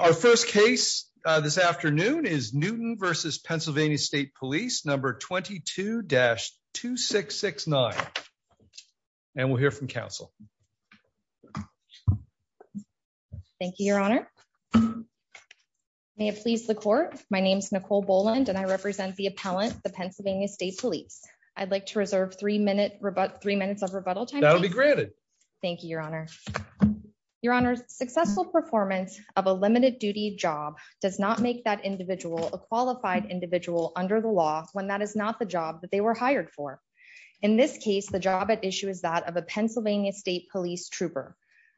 Our first case this afternoon is Newton versus Pennsylvania State Police number 22-2669. And we'll hear from counsel. Thank you, Your Honor. May it please the court. My name is Nicole Boland and I represent the appellant, the Pennsylvania State Police. I'd like to reserve three minutes of rebuttal time. That'll be granted. Thank you, Your Honor. Your Honor, successful performance of a limited duty job does not make that individual a qualified individual under the law when that is not the job that they were hired for. In this case, the job at issue is that of a Pennsylvania State Police trooper.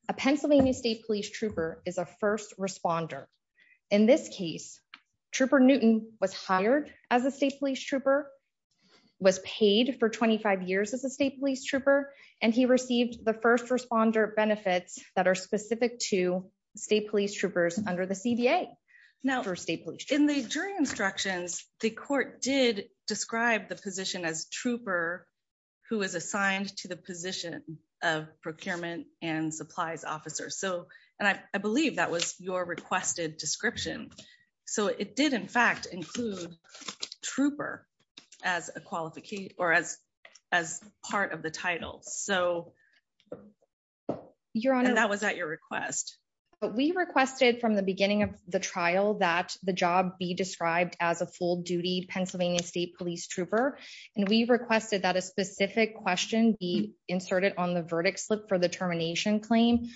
A Pennsylvania State Police trooper is a first responder. In this case, Trooper Newton was hired as a State Trooper and he received the first responder benefits that are specific to State Police troopers under the CBA. Now, for State Police, in the jury instructions, the court did describe the position as trooper who is assigned to the position of procurement and supplies officer. So, and I believe that was your requested description. So it did, in fact, include trooper as a qualified or as, as part of the title. So that was at your request. We requested from the beginning of the trial that the job be described as a full duty Pennsylvania State Police trooper. And we requested that a specific question be inserted on the verdict slip for the termination claim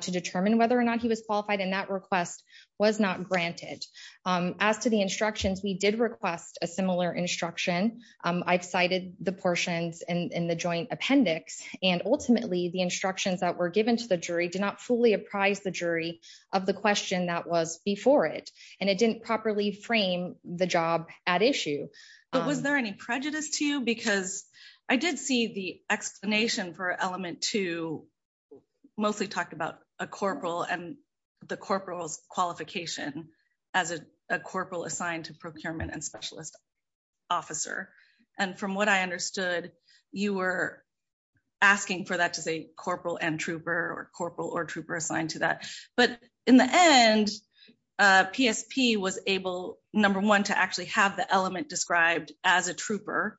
to determine whether or not he was qualified. And that request was not granted. As to the instructions, we did request a similar instruction. I've cited the portions in the joint appendix. And ultimately the instructions that were given to the jury did not fully apprise the jury of the question that was before it. And it didn't properly frame the job at issue. But was there any prejudice to you? Because I did see the explanation for element two, mostly talked about a corporal and the corporals qualification as a corporal assigned to procurement and specialist officer. And from what I understood, you were asking for that to say corporal and trooper or corporal or trooper assigned to that. But in the end, PSP was able, number one, to actually have the element described as a trooper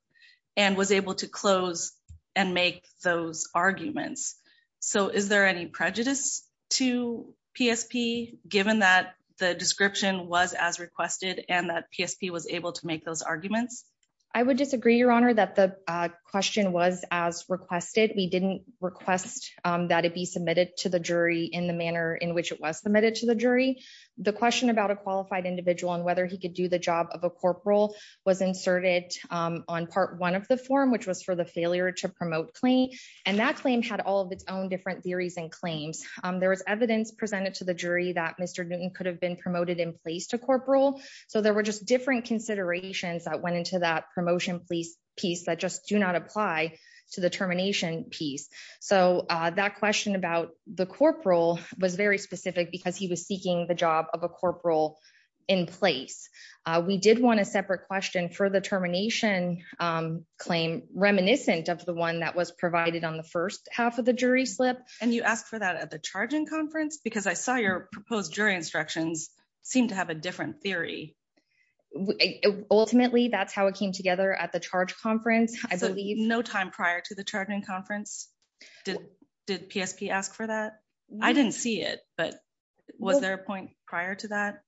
and was able to close and make those arguments. So is there any prejudice to PSP given that the description was as requested and that PSP was able to make those arguments? I would disagree, Your Honor, that the question was as requested. We didn't request that it be submitted to the jury in the manner in which it was submitted to the jury. The question about a qualified individual and whether he could do the job of a corporal was inserted on part one of the form, which was for the failure to promote claim. And that claim had all of its own different theories and claims. There was evidence presented to the jury that Mr. Newton could have been promoted in place to corporal. So there were just different considerations that went into that promotion piece that just do not apply to the termination piece. So that question about the corporal was very specific because he was seeking the job of a corporal in place. We did want a separate question for the termination claim reminiscent of the one that was provided on the first half of the jury slip. And you asked for that at the charging conference because I saw your proposed jury instructions seem to have a different theory. Ultimately, that's how it came together at the charge conference. So no time prior to the charging conference, did PSP ask for that? I didn't see it, but was there a point prior to that?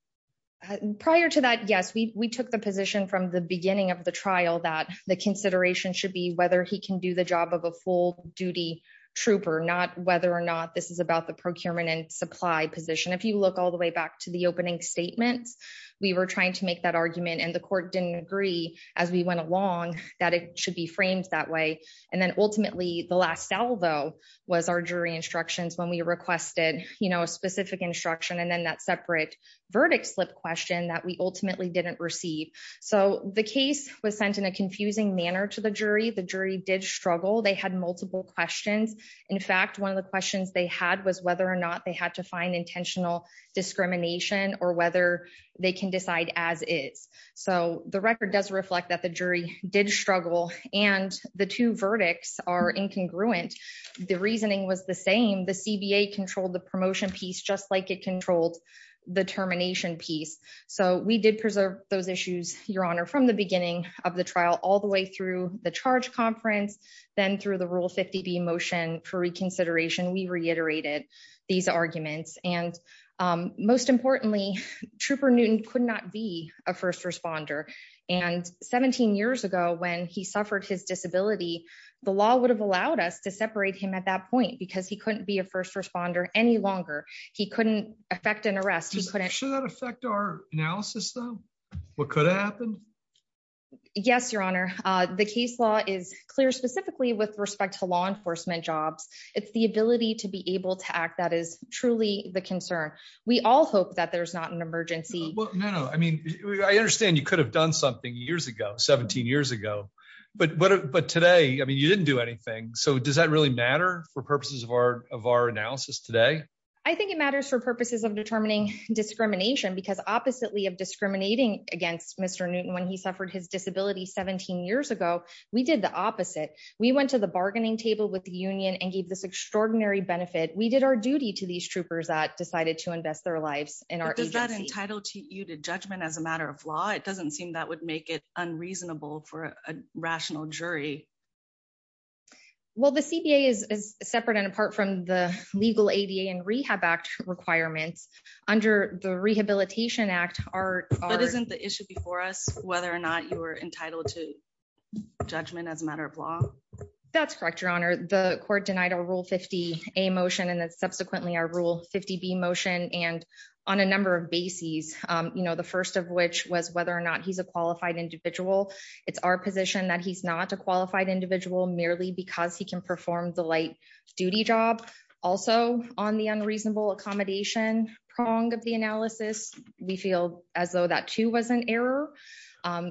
Prior to that, yes, we took the position from the beginning of the trial that the consideration should be whether he can do the job of a full duty trooper, not whether or not this is about the procurement and supply position. If you look all the way back to the opening statements, we were trying to make that argument and the court didn't agree as we went along that it should be framed that way. And then ultimately the last salvo was our jury instructions when we requested a specific instruction and then that separate verdict slip question that we ultimately didn't receive. So the case was sent in a confusing manner to the jury. The jury did struggle. They had multiple questions. In fact, one of the questions they had was whether or not they had to find intentional discrimination or whether they can decide as is. So the record does reflect that the jury did struggle and the two verdicts are incongruent. The reasoning was the same. The CBA controlled the promotion piece, just like it controlled the termination piece. So we did preserve those issues, your honor, from the beginning of the trial, all the way through the charge conference, then through the rule 50 D motion for reconsideration, we reiterated these arguments. And, um, most importantly, trooper Newton could not be a first responder. And 17 years ago, when he suffered his disability, the law would have allowed us to separate him at that point because he couldn't be a first responder any longer. He couldn't affect an analysis though. What could have happened? Yes, your honor. Uh, the case law is clear specifically with respect to law enforcement jobs. It's the ability to be able to act. That is truly the concern. We all hope that there's not an emergency. No, no. I mean, I understand you could have done something years ago, 17 years ago, but, but, but today, I mean, you didn't do anything. So does that really matter for purposes of our, of our analysis today? I think it matters for purposes of determining discrimination because oppositely of discriminating against mr. Newton, when he suffered his disability 17 years ago, we did the opposite. We went to the bargaining table with the union and gave this extraordinary benefit. We did our duty to these troopers that decided to invest their lives in our agency. Does that entitle to you to judgment as a matter of law? It doesn't seem that would make it unreasonable for a rehab act requirements under the rehabilitation act are, isn't the issue before us, whether or not you were entitled to judgment as a matter of law. That's correct. Your honor, the court denied a rule 50, a motion. And then subsequently our rule 50 B motion. And on a number of bases, you know, the first of which was whether or not he's a qualified individual. It's our position that he's not a qualified individual merely because he can perform the light duty job. Also on the unreasonable accommodation prong of the analysis, we feel as though that too, was an error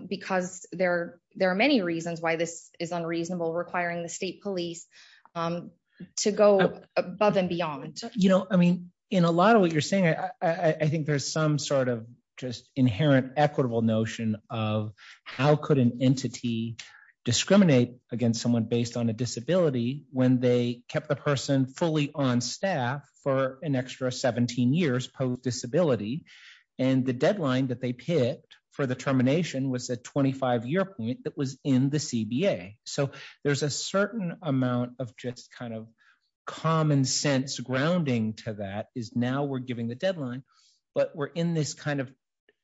because there, there are many reasons why this is unreasonable requiring the state police to go above and beyond. You know, I mean, in a lot of what you're saying, I think there's some sort of just inherent equitable notion of how could an entity discriminate against someone based on a disability when they kept the person fully on staff for an extra 17 years post disability and the deadline that they picked for the termination was a 25 year point that was in the CBA. So there's a certain amount of just kind of common sense grounding to that is now we're giving the deadline, but we're in this kind of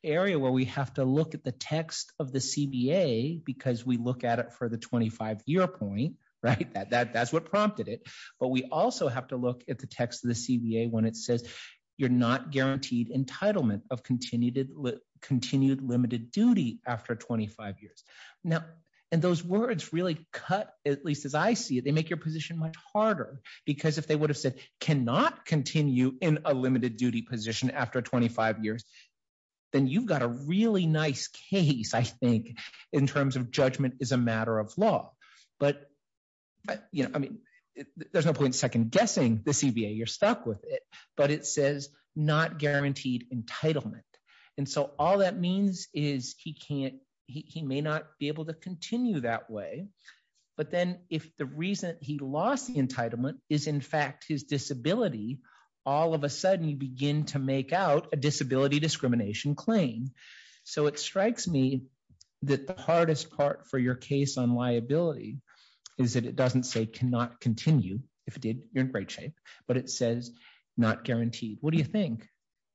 area where we have to look at the text of the CBA because we look at it for the 25 year point, right? That that's what prompted it. But we also have to look at the text of the CBA when it says you're not guaranteed entitlement of continued limited duty after 25 years. Now, and those words really cut, at least as I see it, they make your position much harder because if they would have said cannot continue in a limited duty position after 25 years, then you've got a really nice case, I think, in terms of judgment is a matter of law. But, you know, I mean, there's no point second guessing the CBA, you're stuck with it, but it says not guaranteed entitlement. And so all that means is he can't, he may not be able to continue that way. But then if the reason he lost the entitlement is in fact his disability, all of a sudden you begin to make out a disability discrimination claim. So it strikes me that the hardest part for your case on liability is that it doesn't say cannot continue if it did, you're in great shape, but it says not guaranteed. What do you think?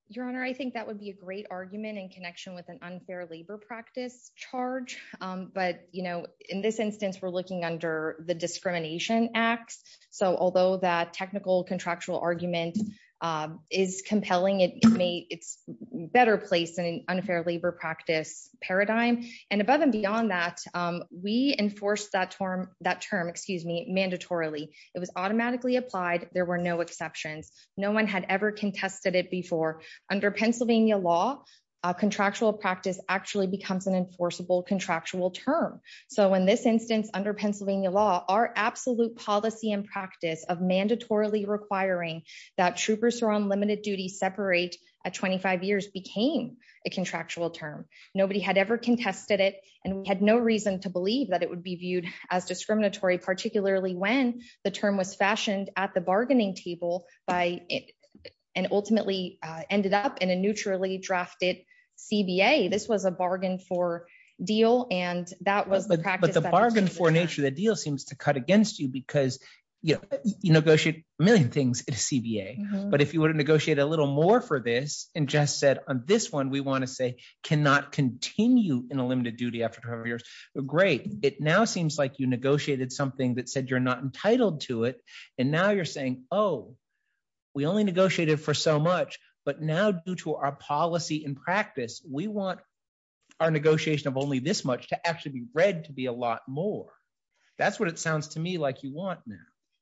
Your Honor, I think that would be a great argument in connection with an unfair labor practice charge. But, you know, in this instance, we're looking under the discrimination acts. So although that technical contractual argument is compelling, it's better placed in an unfair labor practice paradigm. And above and beyond that, we enforce that term, that term, excuse me, mandatorily. It was automatically applied. There were no exceptions. No one had ever contested it before. Under Pennsylvania law, contractual practice actually becomes an enforceable contractual term. So in this instance, under Pennsylvania law, our absolute policy and mandatorily requiring that troopers who are on limited duty separate at 25 years became a contractual term. Nobody had ever contested it, and we had no reason to believe that it would be viewed as discriminatory, particularly when the term was fashioned at the bargaining table by, and ultimately ended up in a neutrally drafted CBA. This was a bargain for deal, and that was But the bargain for nature of the deal seems to cut against you because, you know, you negotiate a million things at a CBA. But if you were to negotiate a little more for this, and Jess said, on this one, we want to say, cannot continue in a limited duty after 25 years. Great. It now seems like you negotiated something that said you're not entitled to it. And now you're saying, oh, we only negotiated for so much. But now due to our policy and practice, we want our negotiation of only this much to actually be read to be a lot more. That's what it sounds to me like you want.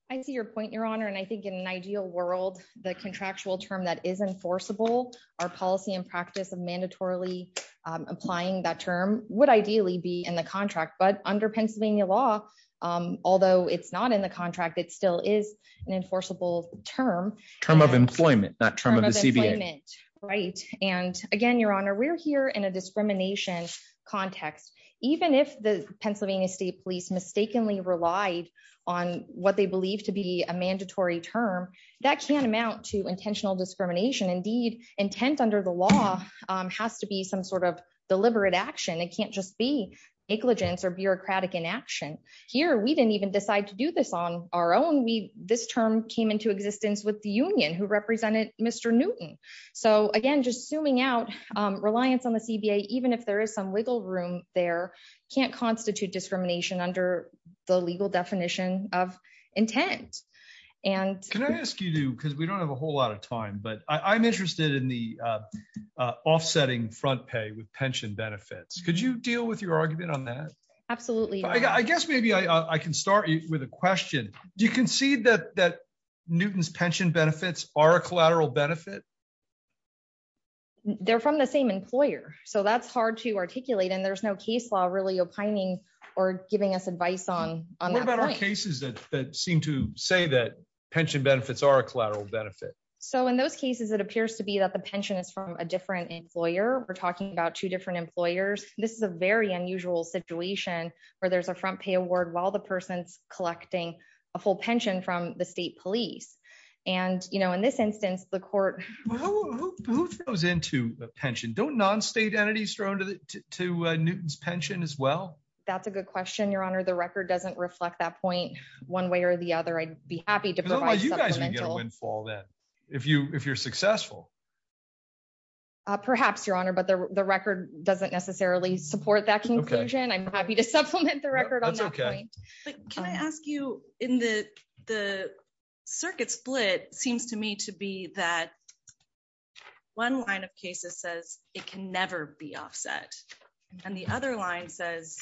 I see your point, Your Honor. And I think in an ideal world, the contractual term that is enforceable, our policy and practice of mandatorily applying that term would ideally be in the contract. But under Pennsylvania law, although it's not in the contract, it still is an enforceable term, term of employment, not term of employment. Right. And again, Your Honor, we're here in a discrimination context. Even if the Pennsylvania State Police mistakenly relied on what they believe to be a mandatory term, that can amount to intentional discrimination. Indeed, intent under the law has to be some sort of deliberate action. It can't just be negligence or bureaucratic inaction. Here, we didn't even decide to do this on our own. We this term came into existence with the union who represented Mr. Newton. So again, just zooming out reliance on the CBA, even if there is some wiggle room, there can't constitute discrimination under the legal definition of intent. And can I ask you to because we don't have a whole lot of time, but I'm interested in the offsetting front pay with pension benefits. Could you deal with your argument on that? Absolutely. I guess maybe I can start with a question. Do you concede that that Newton's pension benefits are a collateral benefit? They're from the same employer. So that's hard to articulate. And there's no case law really opining or giving us advice on cases that seem to say that pension benefits are a collateral benefit. So in those cases, it appears to be that the pension is from a different employer. We're talking about two different employers. This is a very unusual situation where there's a front pay while the person's collecting a full pension from the state police. And, you know, in this instance, the court who goes into a pension, don't non-state entities thrown to Newton's pension as well. That's a good question, Your Honor. The record doesn't reflect that point one way or the other. I'd be happy to provide you guys a windfall that if you if you're successful. Perhaps, Your Honor, but the record doesn't necessarily support that conclusion. I'm happy to supplement the record on that point. Can I ask you in the the circuit split seems to me to be that one line of cases says it can never be offset and the other line says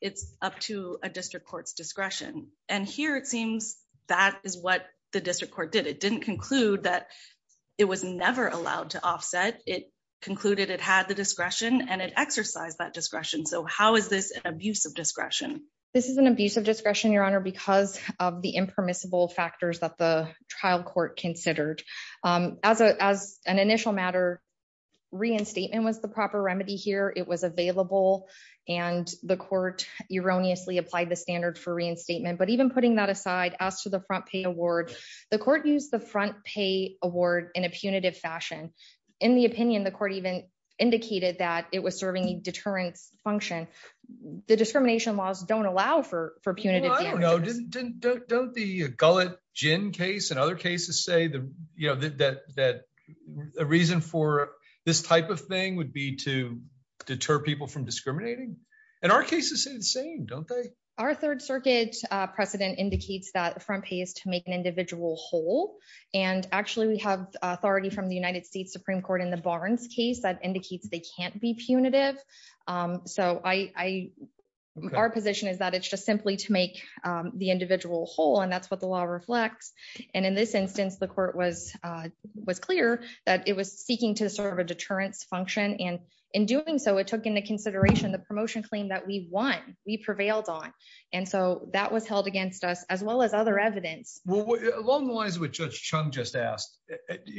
it's up to a district court's discretion. And here it seems that is what the district court did. It didn't conclude that it was never allowed to offset. It concluded it had the discretion and it exercised that discretion. This is an abuse of discretion, Your Honor, because of the impermissible factors that the trial court considered as an initial matter. Reinstatement was the proper remedy here. It was available and the court erroneously applied the standard for reinstatement. But even putting that aside as to the front pay award, the court used the front pay award in a punitive fashion. In the case of the Gullett-Ginn case and other cases say that a reason for this type of thing would be to deter people from discriminating. And our cases say the same, don't they? Our Third Circuit precedent indicates that the front pay is to make an individual whole. And actually, we have authority from the United States Supreme Court in the Barnes case that indicates they can't be our position is that it's just simply to make the individual whole. And that's what the law reflects. And in this instance, the court was clear that it was seeking to serve a deterrence function. And in doing so, it took into consideration the promotion claim that we want, we prevailed on. And so that was held against us as well as other evidence. Well, along the lines of what Judge Chung just asked,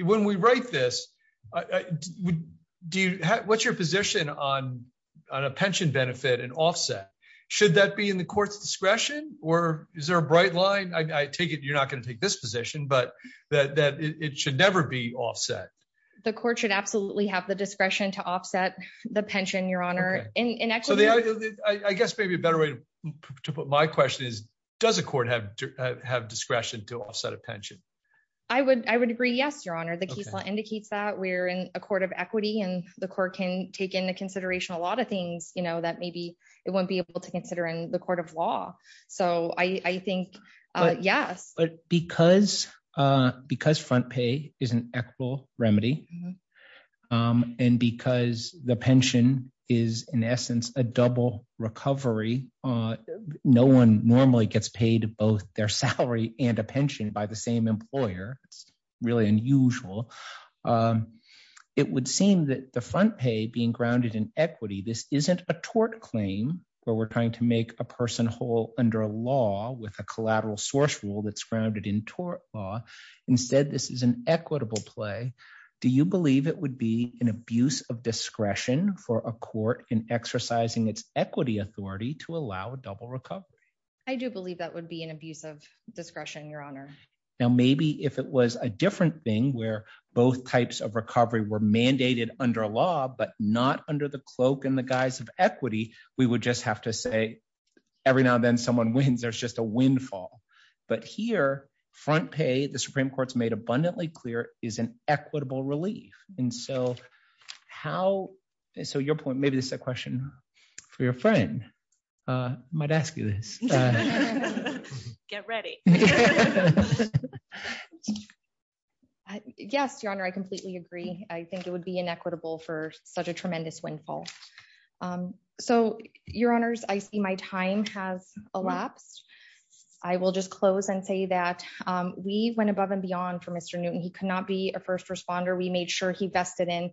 when we write this, I would do what's your position on a pension benefit and offset? Should that be in the court's discretion? Or is there a bright line? I take it you're not going to take this position, but that it should never be offset. The court should absolutely have the discretion to offset the pension, Your Honor. And actually, I guess maybe a better way to put my question is, does a court have to have discretion to offset a pension? I would, I would agree. Yes, Your Honor, the case law indicates that we're in a court of equity, and the court can take into consideration a lot of things, you know, that maybe it won't be able to consider in the court of law. So I think, yes, but because, because front pay is an equitable remedy. And because the pension is, in essence, a double recovery, no one normally gets paid both their salary and a pension by the same employer. It's really unusual. It would seem that the front pay being grounded in equity, this isn't a tort claim, where we're trying to make a person whole under a law with a collateral source rule that's grounded in tort law. Instead, this is an equitable play. Do you believe it would be an abuse of discretion for a court in exercising its I do believe that would be an abuse of discretion, Your Honor. Now, maybe if it was a different thing, where both types of recovery were mandated under law, but not under the cloak in the guise of equity, we would just have to say, every now and then someone wins, there's just a windfall. But here, front pay, the Supreme Court's made abundantly clear is an equitable relief. And so how so your point, maybe this question for your friend might ask you this. Get ready. Yes, Your Honor, I completely agree. I think it would be inequitable for such a tremendous windfall. So, Your Honors, I see my time has elapsed. I will just close and say that we went above and beyond for Mr. Newton, he could not be a first responder, we made sure he vested in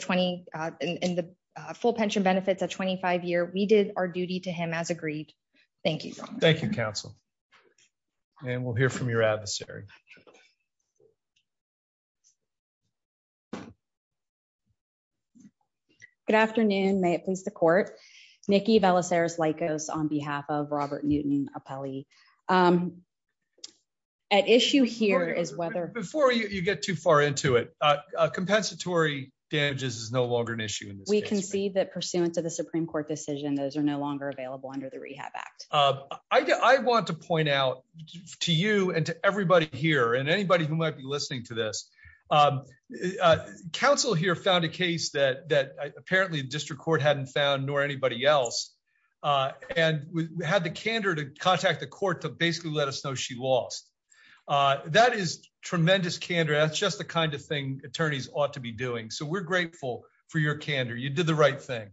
in the full pension benefits at 25 year, we did our duty to him as agreed. Thank you, Your Honor. Thank you, counsel. And we'll hear from your adversary. Good afternoon, may it please the court. Nikki Belisarius Lycos on behalf of Robert Newton appellee. At issue here is whether before you get too far into it, compensatory damages is no longer an issue. And we can see that pursuant to the Supreme Court decision, those are no longer available under the Rehab Act. I want to point out to you and to everybody here and anybody who might be listening to this. Council here found a case that that apparently district court hadn't found nor anybody else. And we had the candor to contact the court to basically let us know she lost. That is tremendous candor. That's just the kind of thing attorneys ought to be doing. So we're grateful for your candor, you did the right thing.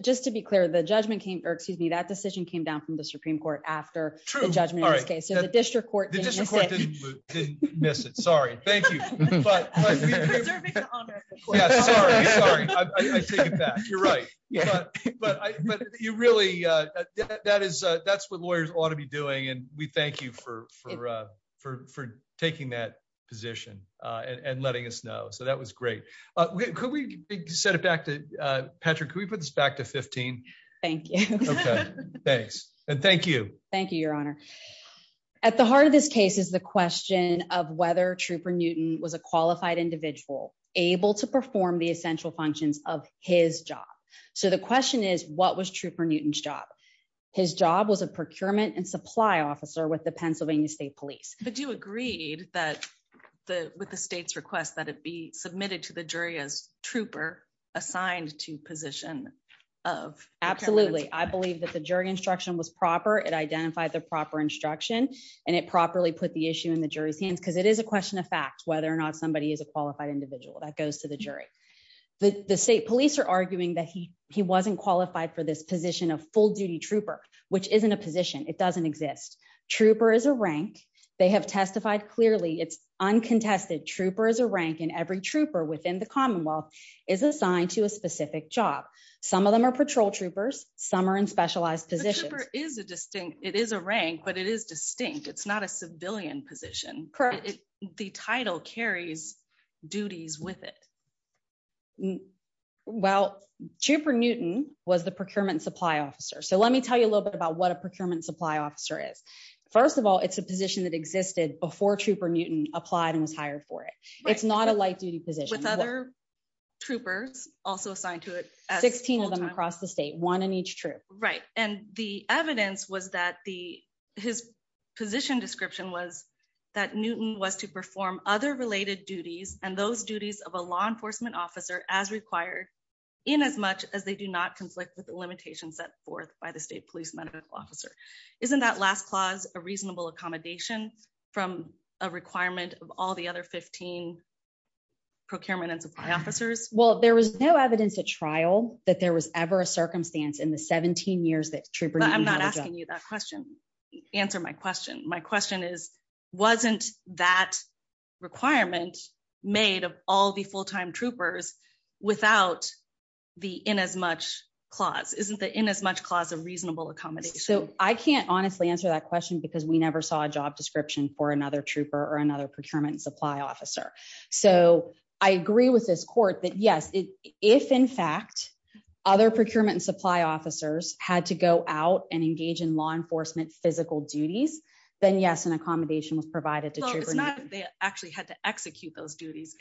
Just to be clear, the judgment came or excuse me, that decision came down from the Supreme Court after true judgment. Okay, so the but you really, that is, that's what lawyers ought to be doing. And we thank you for, for, for taking that position and letting us know. So that was great. Could we set it back to Patrick, we put this back to 15. Thank you. Thanks. And thank you. Thank you, Your Honor. At the heart of this case is the question of whether trooper Newton was a qualified individual able to perform the essential functions of his job. So the question is, what was true for Newton's job? His job was a procurement and supply officer with the Pennsylvania State Police, but you agreed that the with the state's request that it be submitted to the jury as trooper assigned to position of absolutely, I believe that the jury instruction was proper, it identified the proper instruction. And it properly put the issue in the jury's hands, because it is a question of fact, whether or not somebody is a qualified individual that goes to the jury. The state police are arguing that he he wasn't qualified for this position of full duty trooper, which isn't a position it doesn't exist. Trooper is a rank, they have testified clearly it's uncontested trooper as a rank and every trooper within the Commonwealth is assigned to a specific job. Some of them are patrol troopers, some are in specialized position is a distinct, it is a rank, but it is distinct. It's not a civilian position. The title carries duties with it. Well, trooper Newton was the procurement supply officer. So let me tell you a little bit about what a procurement supply officer is. First of all, it's a position that existed before trooper Newton applied and was hired for it. It's not a light duty position with other troopers also assigned to it. 16 of them across the state, one in each troop, right. And the evidence was that the his position description was that Newton was to perform other related duties and those duties of a law enforcement officer as required in as much as they do not conflict with the limitations set forth by the state police medical officer. Isn't that last clause a reasonable accommodation from a requirement of all the other 15 procurement and supply officers? Well, there was no evidence at trial that there was ever a circumstance in the 17 years that I'm not asking you that question. Answer my question. My question is, wasn't that requirement made of all the full-time troopers without the in as much clause, isn't the in as much clause of reasonable accommodation? So I can't honestly answer that question because we never saw a job description for another trooper or another procurement and supply officer. So I agree with this court that yes, if in fact other procurement and supply officers had to go out and engage in law enforcement physical duties, then yes, an accommodation was provided to troopers. They actually had to execute those duties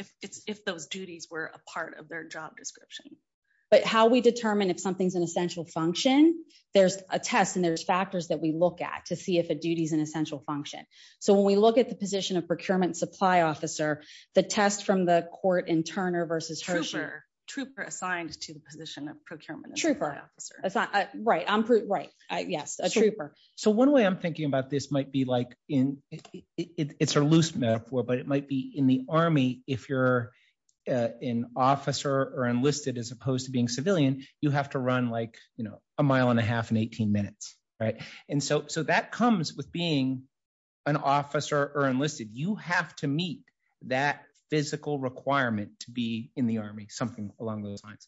if those duties were a part of their job description. But how we determine if something's an essential function, there's a test and there's factors that we look at to see if a duty is an essential function. So when we look at the position of procurement supply officer, the test from the court in Turner versus Hershey. Trooper assigned to the position of procurement. Right. Yes. A trooper. So one way I'm thinking about this might be like in it's a loose metaphor, but it might be in the army. If you're an officer or enlisted, as opposed to being civilian, you have to run like a mile and a half and 18 minutes. Right. And so that comes with being an officer or enlisted. You have to meet that physical requirement to be in the army, something along those lines.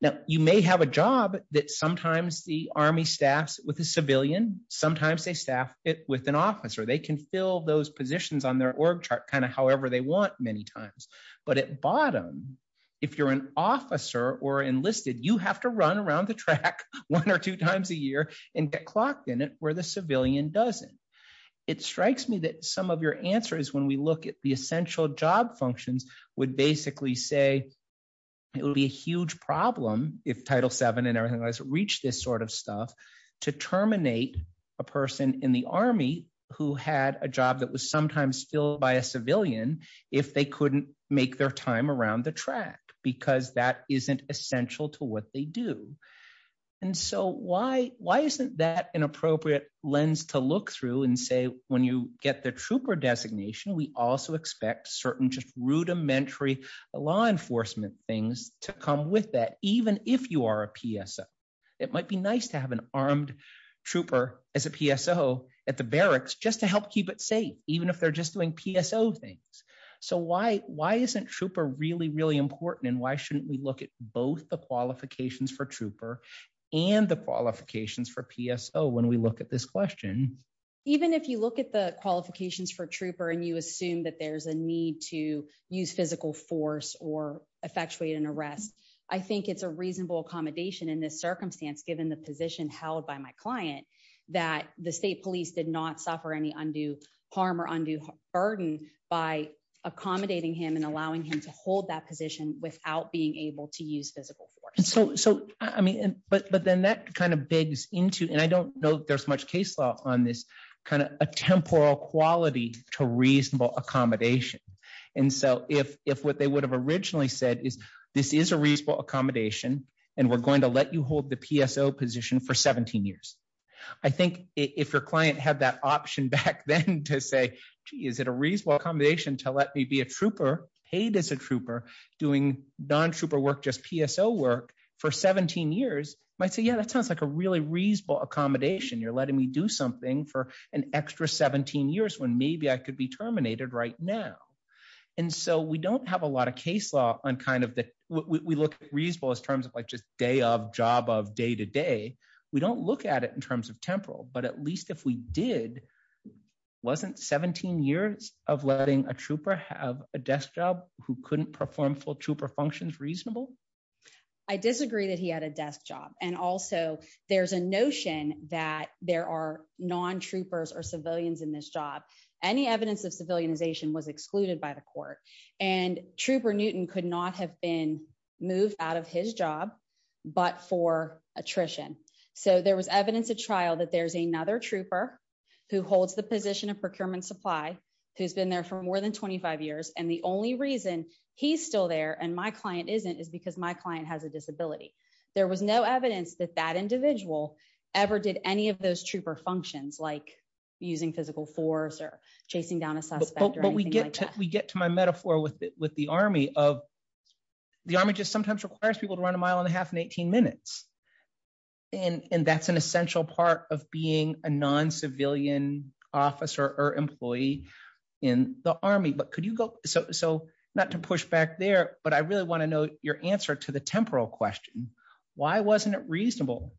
Now you may have a job that sometimes the army staffs with a civilian. Sometimes they staff it with an officer. They can fill those positions on their org chart kind of however they want many times. But at bottom, if you're an officer or enlisted, you have to run around the track one or two times a year and get clocked in it where the civilian doesn't. It strikes me that some of your answer is when we look at the essential job functions would basically say it would be a huge problem if title seven and everything has reached this sort of stuff to terminate a person in the army who had a job that was sometimes filled by a civilian if they couldn't make their time around the track because that isn't essential to what they do. And so why why isn't that an appropriate lens to look through and say when you get the trooper designation we also expect certain just rudimentary law enforcement things to come with that even if you are a PSO. It might be nice to have an armed trooper as a PSO at the barracks just to help keep it safe even if they're just doing PSO things. So why why isn't trooper really really important and why shouldn't we look at both the qualifications for trooper and the qualifications for PSO when we look at this question? Even if you look at the qualifications for trooper and you assume that there's a need to use physical force or effectuate an arrest, I think it's a reasonable accommodation in this circumstance given the position held by my client that the state police did not suffer any undue harm or undue burden by accommodating him and but then that kind of begs into, and I don't know there's much case law on this, kind of a temporal quality to reasonable accommodation. And so if if what they would have originally said is this is a reasonable accommodation and we're going to let you hold the PSO position for 17 years. I think if your client had that option back then to say gee is it a reasonable accommodation to let me be a trooper paid as a trooper doing non-trooper work just PSO work for 17 years might say yeah that sounds like a really reasonable accommodation. You're letting me do something for an extra 17 years when maybe I could be terminated right now. And so we don't have a lot of case law on kind of the we look reasonable as terms of like just day of job of day to day. We don't look at it in terms of temporal but at least if we did wasn't 17 years of letting a trooper have a desk job who couldn't perform full trooper functions reasonable? I disagree that he had a desk job and also there's a notion that there are non-troopers or civilians in this job. Any evidence of civilianization was excluded by the court and Trooper Newton could not have been moved out of his job but for attrition. So there was evidence of trial that there's another trooper who holds the position of procurement supply who's been there for more than 25 years and the only reason he's still there and my client isn't is because my client has a disability. There was no evidence that that individual ever did any of those trooper functions like using physical force or chasing down a suspect. But we get to we get to my metaphor with with the army of the army just sometimes requires people to run a mile and a half in 18 minutes and and that's an essential part of being a non-civilian officer or employee in the army. But could you go so so not to push back there but I really want to know your answer to the temporal question. Why wasn't it reasonable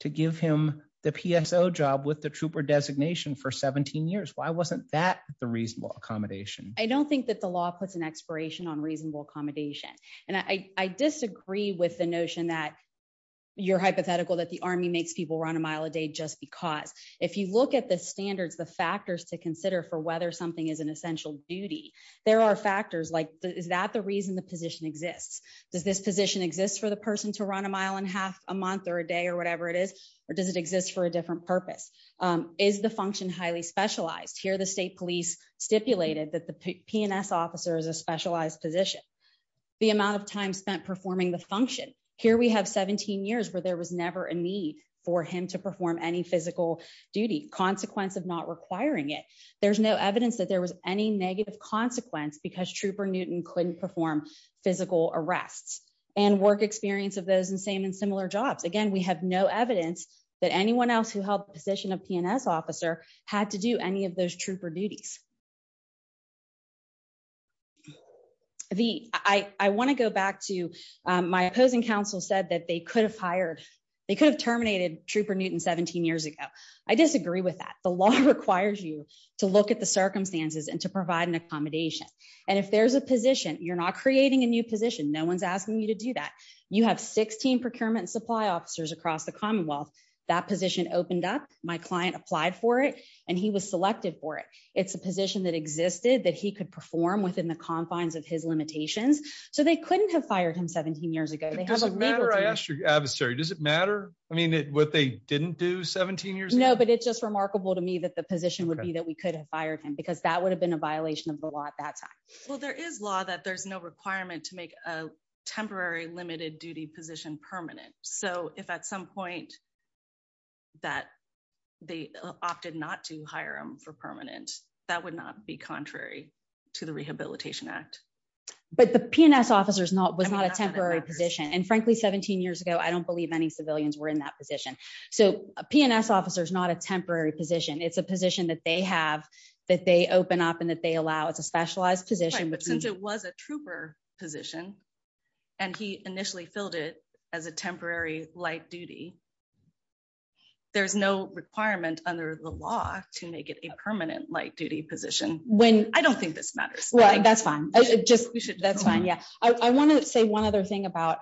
to give him the PSO job with the trooper designation for 17 years? Why wasn't that the reasonable accommodation? I don't think that the law puts an expiration on your hypothetical that the army makes people run a mile a day just because. If you look at the standards the factors to consider for whether something is an essential duty there are factors like is that the reason the position exists? Does this position exist for the person to run a mile and half a month or a day or whatever it is or does it exist for a different purpose? Is the function highly specialized? Here the state police stipulated that the PNS officer is a specialized position. The amount of time spent performing the function. Here we have 17 years where there was never a need for him to perform any physical duty consequence of not requiring it. There's no evidence that there was any negative consequence because Trooper Newton couldn't perform physical arrests and work experience of those in same and similar jobs. Again we have no evidence that anyone else who held the position of PNS officer had to do any of those trooper duties. I want to go back to my opposing counsel said that they could have hired they could have terminated Trooper Newton 17 years ago. I disagree with that. The law requires you to look at the circumstances and to provide an accommodation and if there's a position you're not creating a new position. No one's asking you to do that. You have 16 procurement supply officers across the commonwealth. That position opened up. My client applied for it and he was selected for it. It's a position that existed that he could perform within the confines of his limitations. So they couldn't have fired him 17 years ago. Does it matter? I asked your adversary. Does it matter? I mean what they didn't do 17 years ago? No but it's just remarkable to me that the position would be that we could have fired him because that would have been a violation of the law at that time. Well there is law that there's no requirement to make a temporary limited duty position permanent. So if at some point that they opted not to hire him for permanent that would not be contrary to the Rehabilitation Act. But the PNS officer's not was not a temporary position and frankly 17 years ago I don't believe any civilians were in that position. So a PNS officer is not a temporary position. It's a position that they have that they open up and that they allow. It's a specialized position. But since it was a trooper position and he initially filled it as a temporary light duty there's no requirement under the law to make it a permanent light duty position. I don't think this matters. Right that's fine. I want to say one other thing about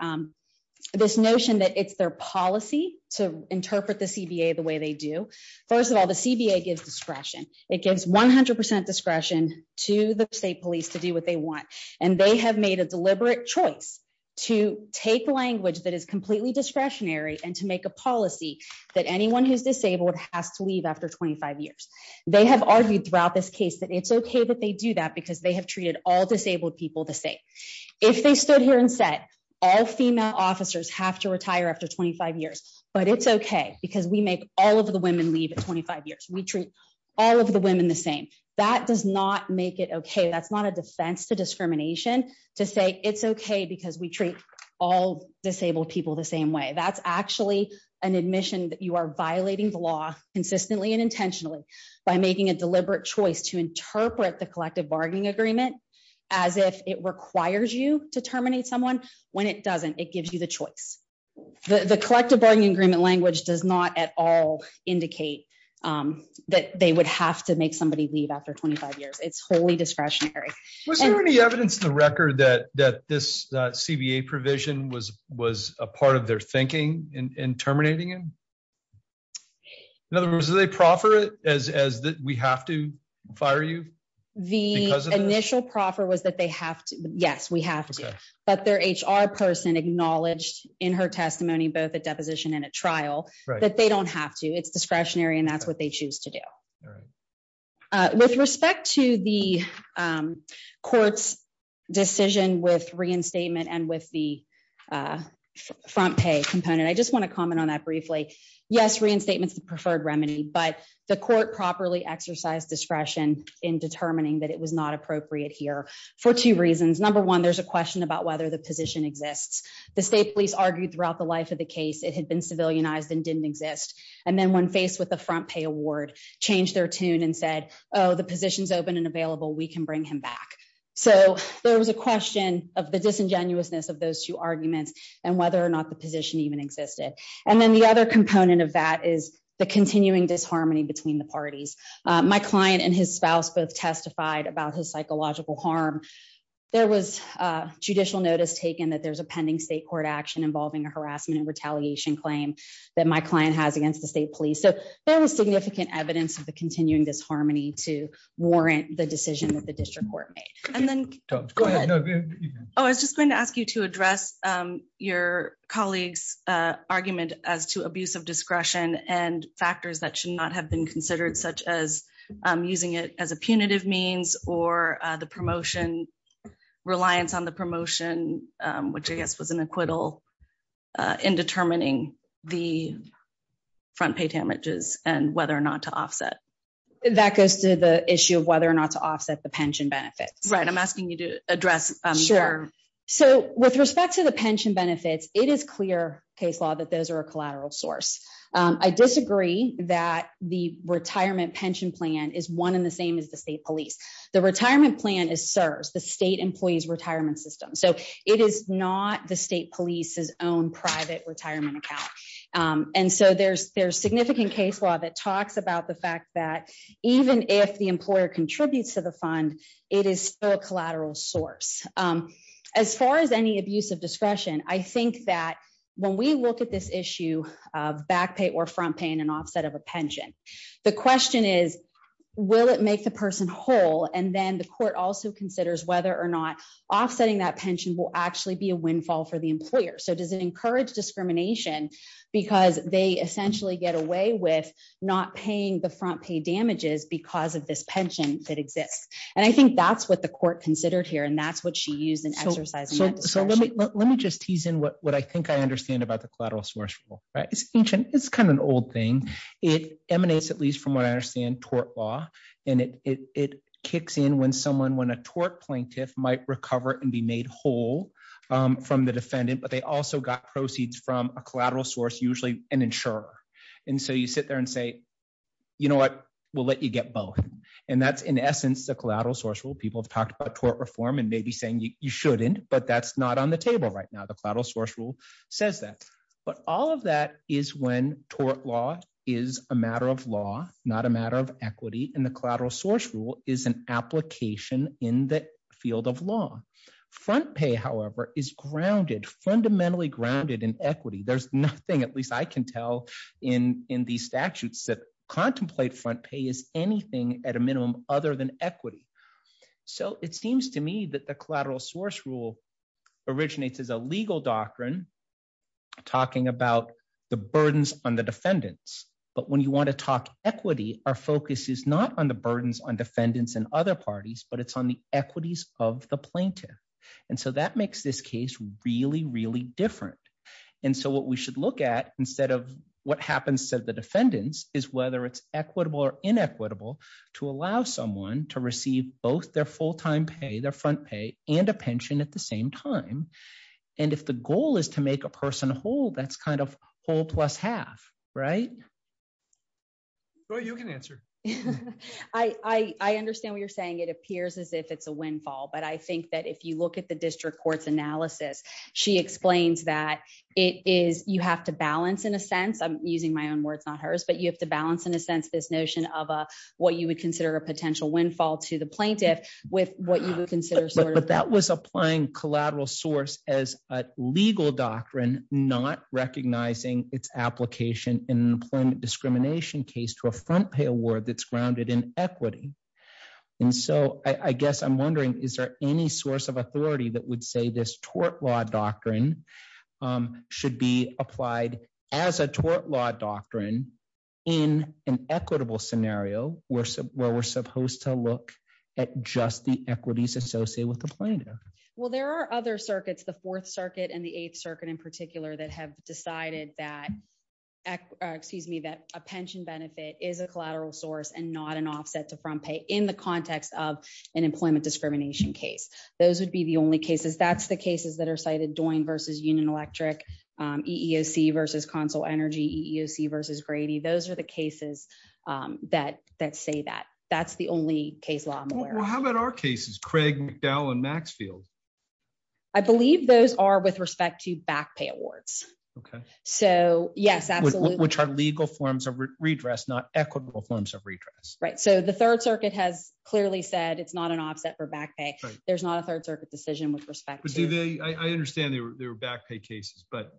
this notion that it's their policy to interpret the CBA the way they do. First of all the CBA gives discretion. It gives 100 percent discretion to the state police to do what they want and they have made a deliberate choice to take language that is completely discretionary and to make a policy that anyone who's disabled has to leave after 25 years. They have argued throughout this case that it's okay that they do that because they have treated all disabled people the same. If they stood here and said all female officers have to retire after 25 years but it's okay because we make all of the women leave at 25 years. We treat all of the women the same. That does not make it okay. That's not a defense to discrimination to say it's okay because we treat all disabled people the same way. That's actually an admission that you are violating the law consistently and intentionally by making a deliberate choice to interpret the collective bargaining agreement as if it requires you to terminate someone. When it doesn't it gives you choice. The collective bargaining agreement language does not at all indicate that they would have to make somebody leave after 25 years. It's wholly discretionary. Was there any evidence in the record that this CBA provision was a part of their thinking in terminating him? In other words, did they proffer it as that we have to fire you? The initial proffer was that yes, we have to but their HR person acknowledged in her testimony both a deposition and a trial that they don't have to. It's discretionary and that's what they choose to do. With respect to the court's decision with reinstatement and with the front pay component, I just want to comment on that briefly. Yes, reinstatement is the preferred remedy but the there's a question about whether the position exists. The state police argued throughout the life of the case it had been civilianized and didn't exist. When faced with the front pay award, changed their tune and said the position is open and available, we can bring him back. There was a question of the disingenuousness of those two arguments and whether or not the position even existed. The other component of that is the continuing disharmony between the parties. My client and his spouse both testified about his psychological harm. There was judicial notice taken that there's a pending state court action involving a harassment and retaliation claim that my client has against the state police. There was significant evidence of the continuing disharmony to warrant the decision that the district court made. I was just going to ask you to address your colleague's argument as to abuse of discretion and factors that should not have been considered such as using it as a punitive means or the promotion, reliance on the promotion, which I guess was an acquittal in determining the front pay damages and whether or not to offset. That goes to the issue of whether or not to offset the pension benefits. Right, I'm asking you to address. Sure, so with respect to the pension benefits, it is clear case law that those are a collateral source. I disagree that the retirement pension plan is one in the same as the state police. The retirement plan is CSRS, the State Employees Retirement System. So it is not the state police's own private retirement account. And so there's significant case law that talks about the fact that even if the employer contributes to the fund, it is still a collateral source. As far as any abuse of discretion, I think that when we look at this issue of back pay or front paying an offset of a pension, the question is, will it make the person whole? And then the court also considers whether or not offsetting that pension will actually be a windfall for the employer. So does it encourage discrimination because they essentially get away with not paying the front pay damages because of this pension that exists? And I think that's what the court considered here. And that's what she used in exercising that discretion. So let me just tease in what I think I understand about the collateral source rule. It's ancient. It's kind of an old thing. It emanates at least from what I understand tort law. And it kicks in when someone, when a tort plaintiff might recover and be made whole from the defendant, but they also got proceeds from a collateral source, usually an insurer. And so you sit there and say, you know what, we'll let you get both. And that's shouldn't, but that's not on the table right now. The collateral source rule says that, but all of that is when tort law is a matter of law, not a matter of equity. And the collateral source rule is an application in the field of law. Front pay, however, is grounded, fundamentally grounded in equity. There's nothing, at least I can tell in, in these statutes that contemplate front pay is anything at a minimum other than equity. So it seems to me that the collateral source rule originates as a legal doctrine talking about the burdens on the defendants. But when you want to talk equity, our focus is not on the burdens on defendants and other parties, but it's on the equities of the plaintiff. And so that makes this case really, really different. And so what we allow someone to receive both their full-time pay, their front pay and a pension at the same time. And if the goal is to make a person whole, that's kind of whole plus half, right? Well, you can answer. I understand what you're saying. It appears as if it's a windfall, but I think that if you look at the district court's analysis, she explains that it is, you have to balance in a sense, I'm using my own words, not hers, but you have to balance in a sense, this notion of what you would consider a potential windfall to the plaintiff with what you would consider. But that was applying collateral source as a legal doctrine, not recognizing its application in employment discrimination case to a front pay award that's grounded in equity. And so I guess I'm wondering, is there any source of authority that would say this tort law doctrine should be applied as a tort law doctrine in an equitable scenario where we're supposed to look at just the equities associated with the plaintiff? Well, there are other circuits, the fourth circuit and the eighth circuit in particular that have decided that, excuse me, that a pension benefit is a collateral source and not an offset to front pay in the context of an employment discrimination case. Those would be the only cases. That's the cases that are cited, Doyne versus Union Electric, EEOC versus Consul Energy, EEOC versus Grady. Those are the cases that say that. That's the only case law I'm aware of. Well, how about our cases, Craig, McDowell and Maxfield? I believe those are with respect to back pay awards. Okay. So yes, absolutely. Which are legal forms of redress, not equitable forms of redress. Right. So the third circuit has clearly said it's not an offset for back pay. There's not a third circuit decision with respect to that. I understand there were back pay cases, but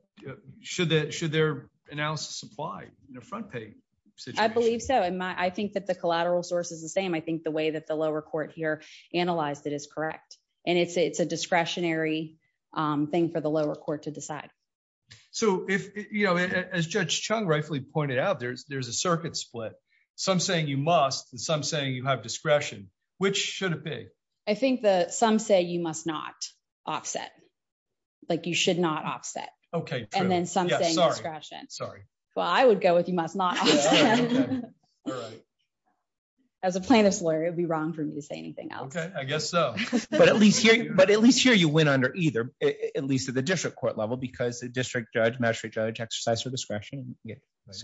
should their analysis apply in a front pay situation? I believe so. I think that the collateral source is the same. I think the way that the lower court here analyzed it is correct. And it's a discretionary thing for the lower court to decide. So as Judge Chung rightfully pointed out, there's a circuit split. Some saying you must and some saying you have discretion, which should it be? I think that some say you must not offset. Like you should not offset. Okay. And then some say you have discretion. Sorry. Well, I would go with you must not offset. As a plaintiff's lawyer, it would be wrong for me to say anything else. Okay. I guess so. But at least here you went under either, at least at the district court level because the district judge, magistrate judge exercised her discretion.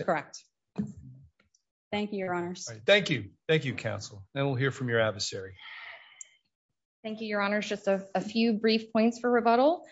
Correct. Thank you, Your Honors. Thank you. Thank you, counsel. Now we'll hear from your adversary. Thank you, Your Honors. Just a few brief points for rebuttal.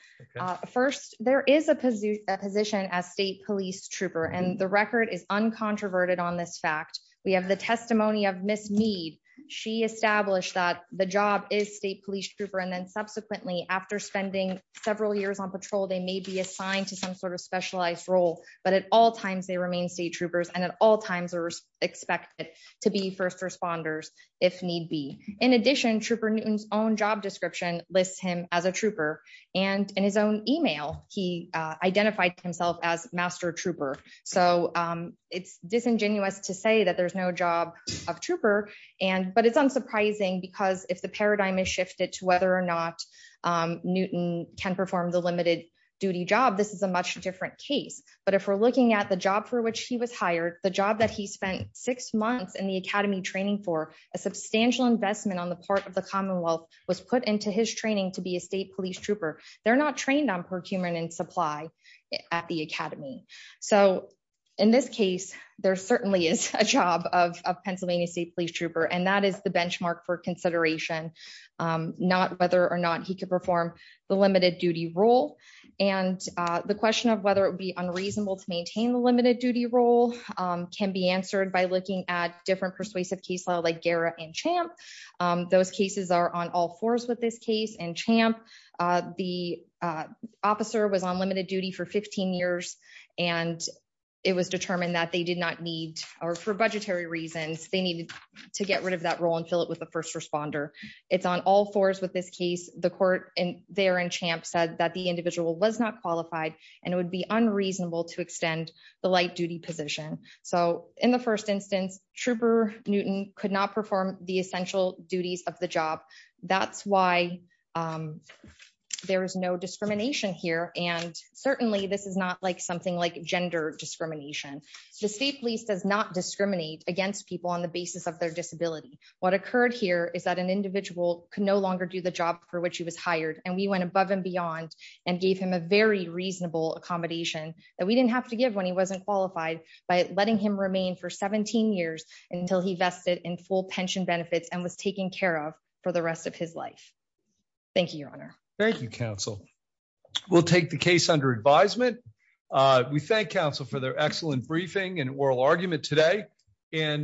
First, there is a position as state police trooper and the record is uncontroverted on this fact. We have the testimony of Ms. Meade. She established that the job is state police trooper. And then subsequently after spending several years on patrol, they may be assigned to some sort of specialized role, but at all times they remain state troopers and at all times are expected to be first responders if need be. In addition, Trooper Newton's own job description lists him as a trooper. And in his own email, he identified himself as master trooper. So it's disingenuous to say that there's no job of trooper. But it's unsurprising because if the paradigm is shifted to whether or not Newton can perform the limited duty job, this is a much different case. But if we're looking at the job for which he was hired, the job that he spent six months in the academy training for, a substantial investment on the part of the Commonwealth was put into his training to be a state police trooper. They're not trained on procurement and supply at the academy. So in this case, there certainly is a job of Pennsylvania state police trooper. And that is the benchmark for consideration, not whether or not he could perform the limited duty role. And the question of whether it would be unreasonable to maintain the limited duty role can be answered by looking at different persuasive caseload like Gara and Champ. Those cases are on all fours with this case and Champ. The officer was on limited duty for 15 years. And it was determined that they did not need or for budgetary reasons, they needed to get rid of that role and fill it with the first responder. It's on all fours with this case, the court and there and Champ said that the individual was not qualified. And it would be so in the first instance, trooper Newton could not perform the essential duties of the job. That's why there is no discrimination here. And certainly this is not like something like gender discrimination. The state police does not discriminate against people on the basis of their disability. What occurred here is that an individual can no longer do the job for which he was hired. And we went above and beyond and gave him a very reasonable accommodation that didn't have to give when he wasn't qualified by letting him remain for 17 years until he vested in full pension benefits and was taken care of for the rest of his life. Thank you, Your Honor. Thank you, counsel. We'll take the case under advisement. We thank counsel for their excellent briefing and oral argument today. And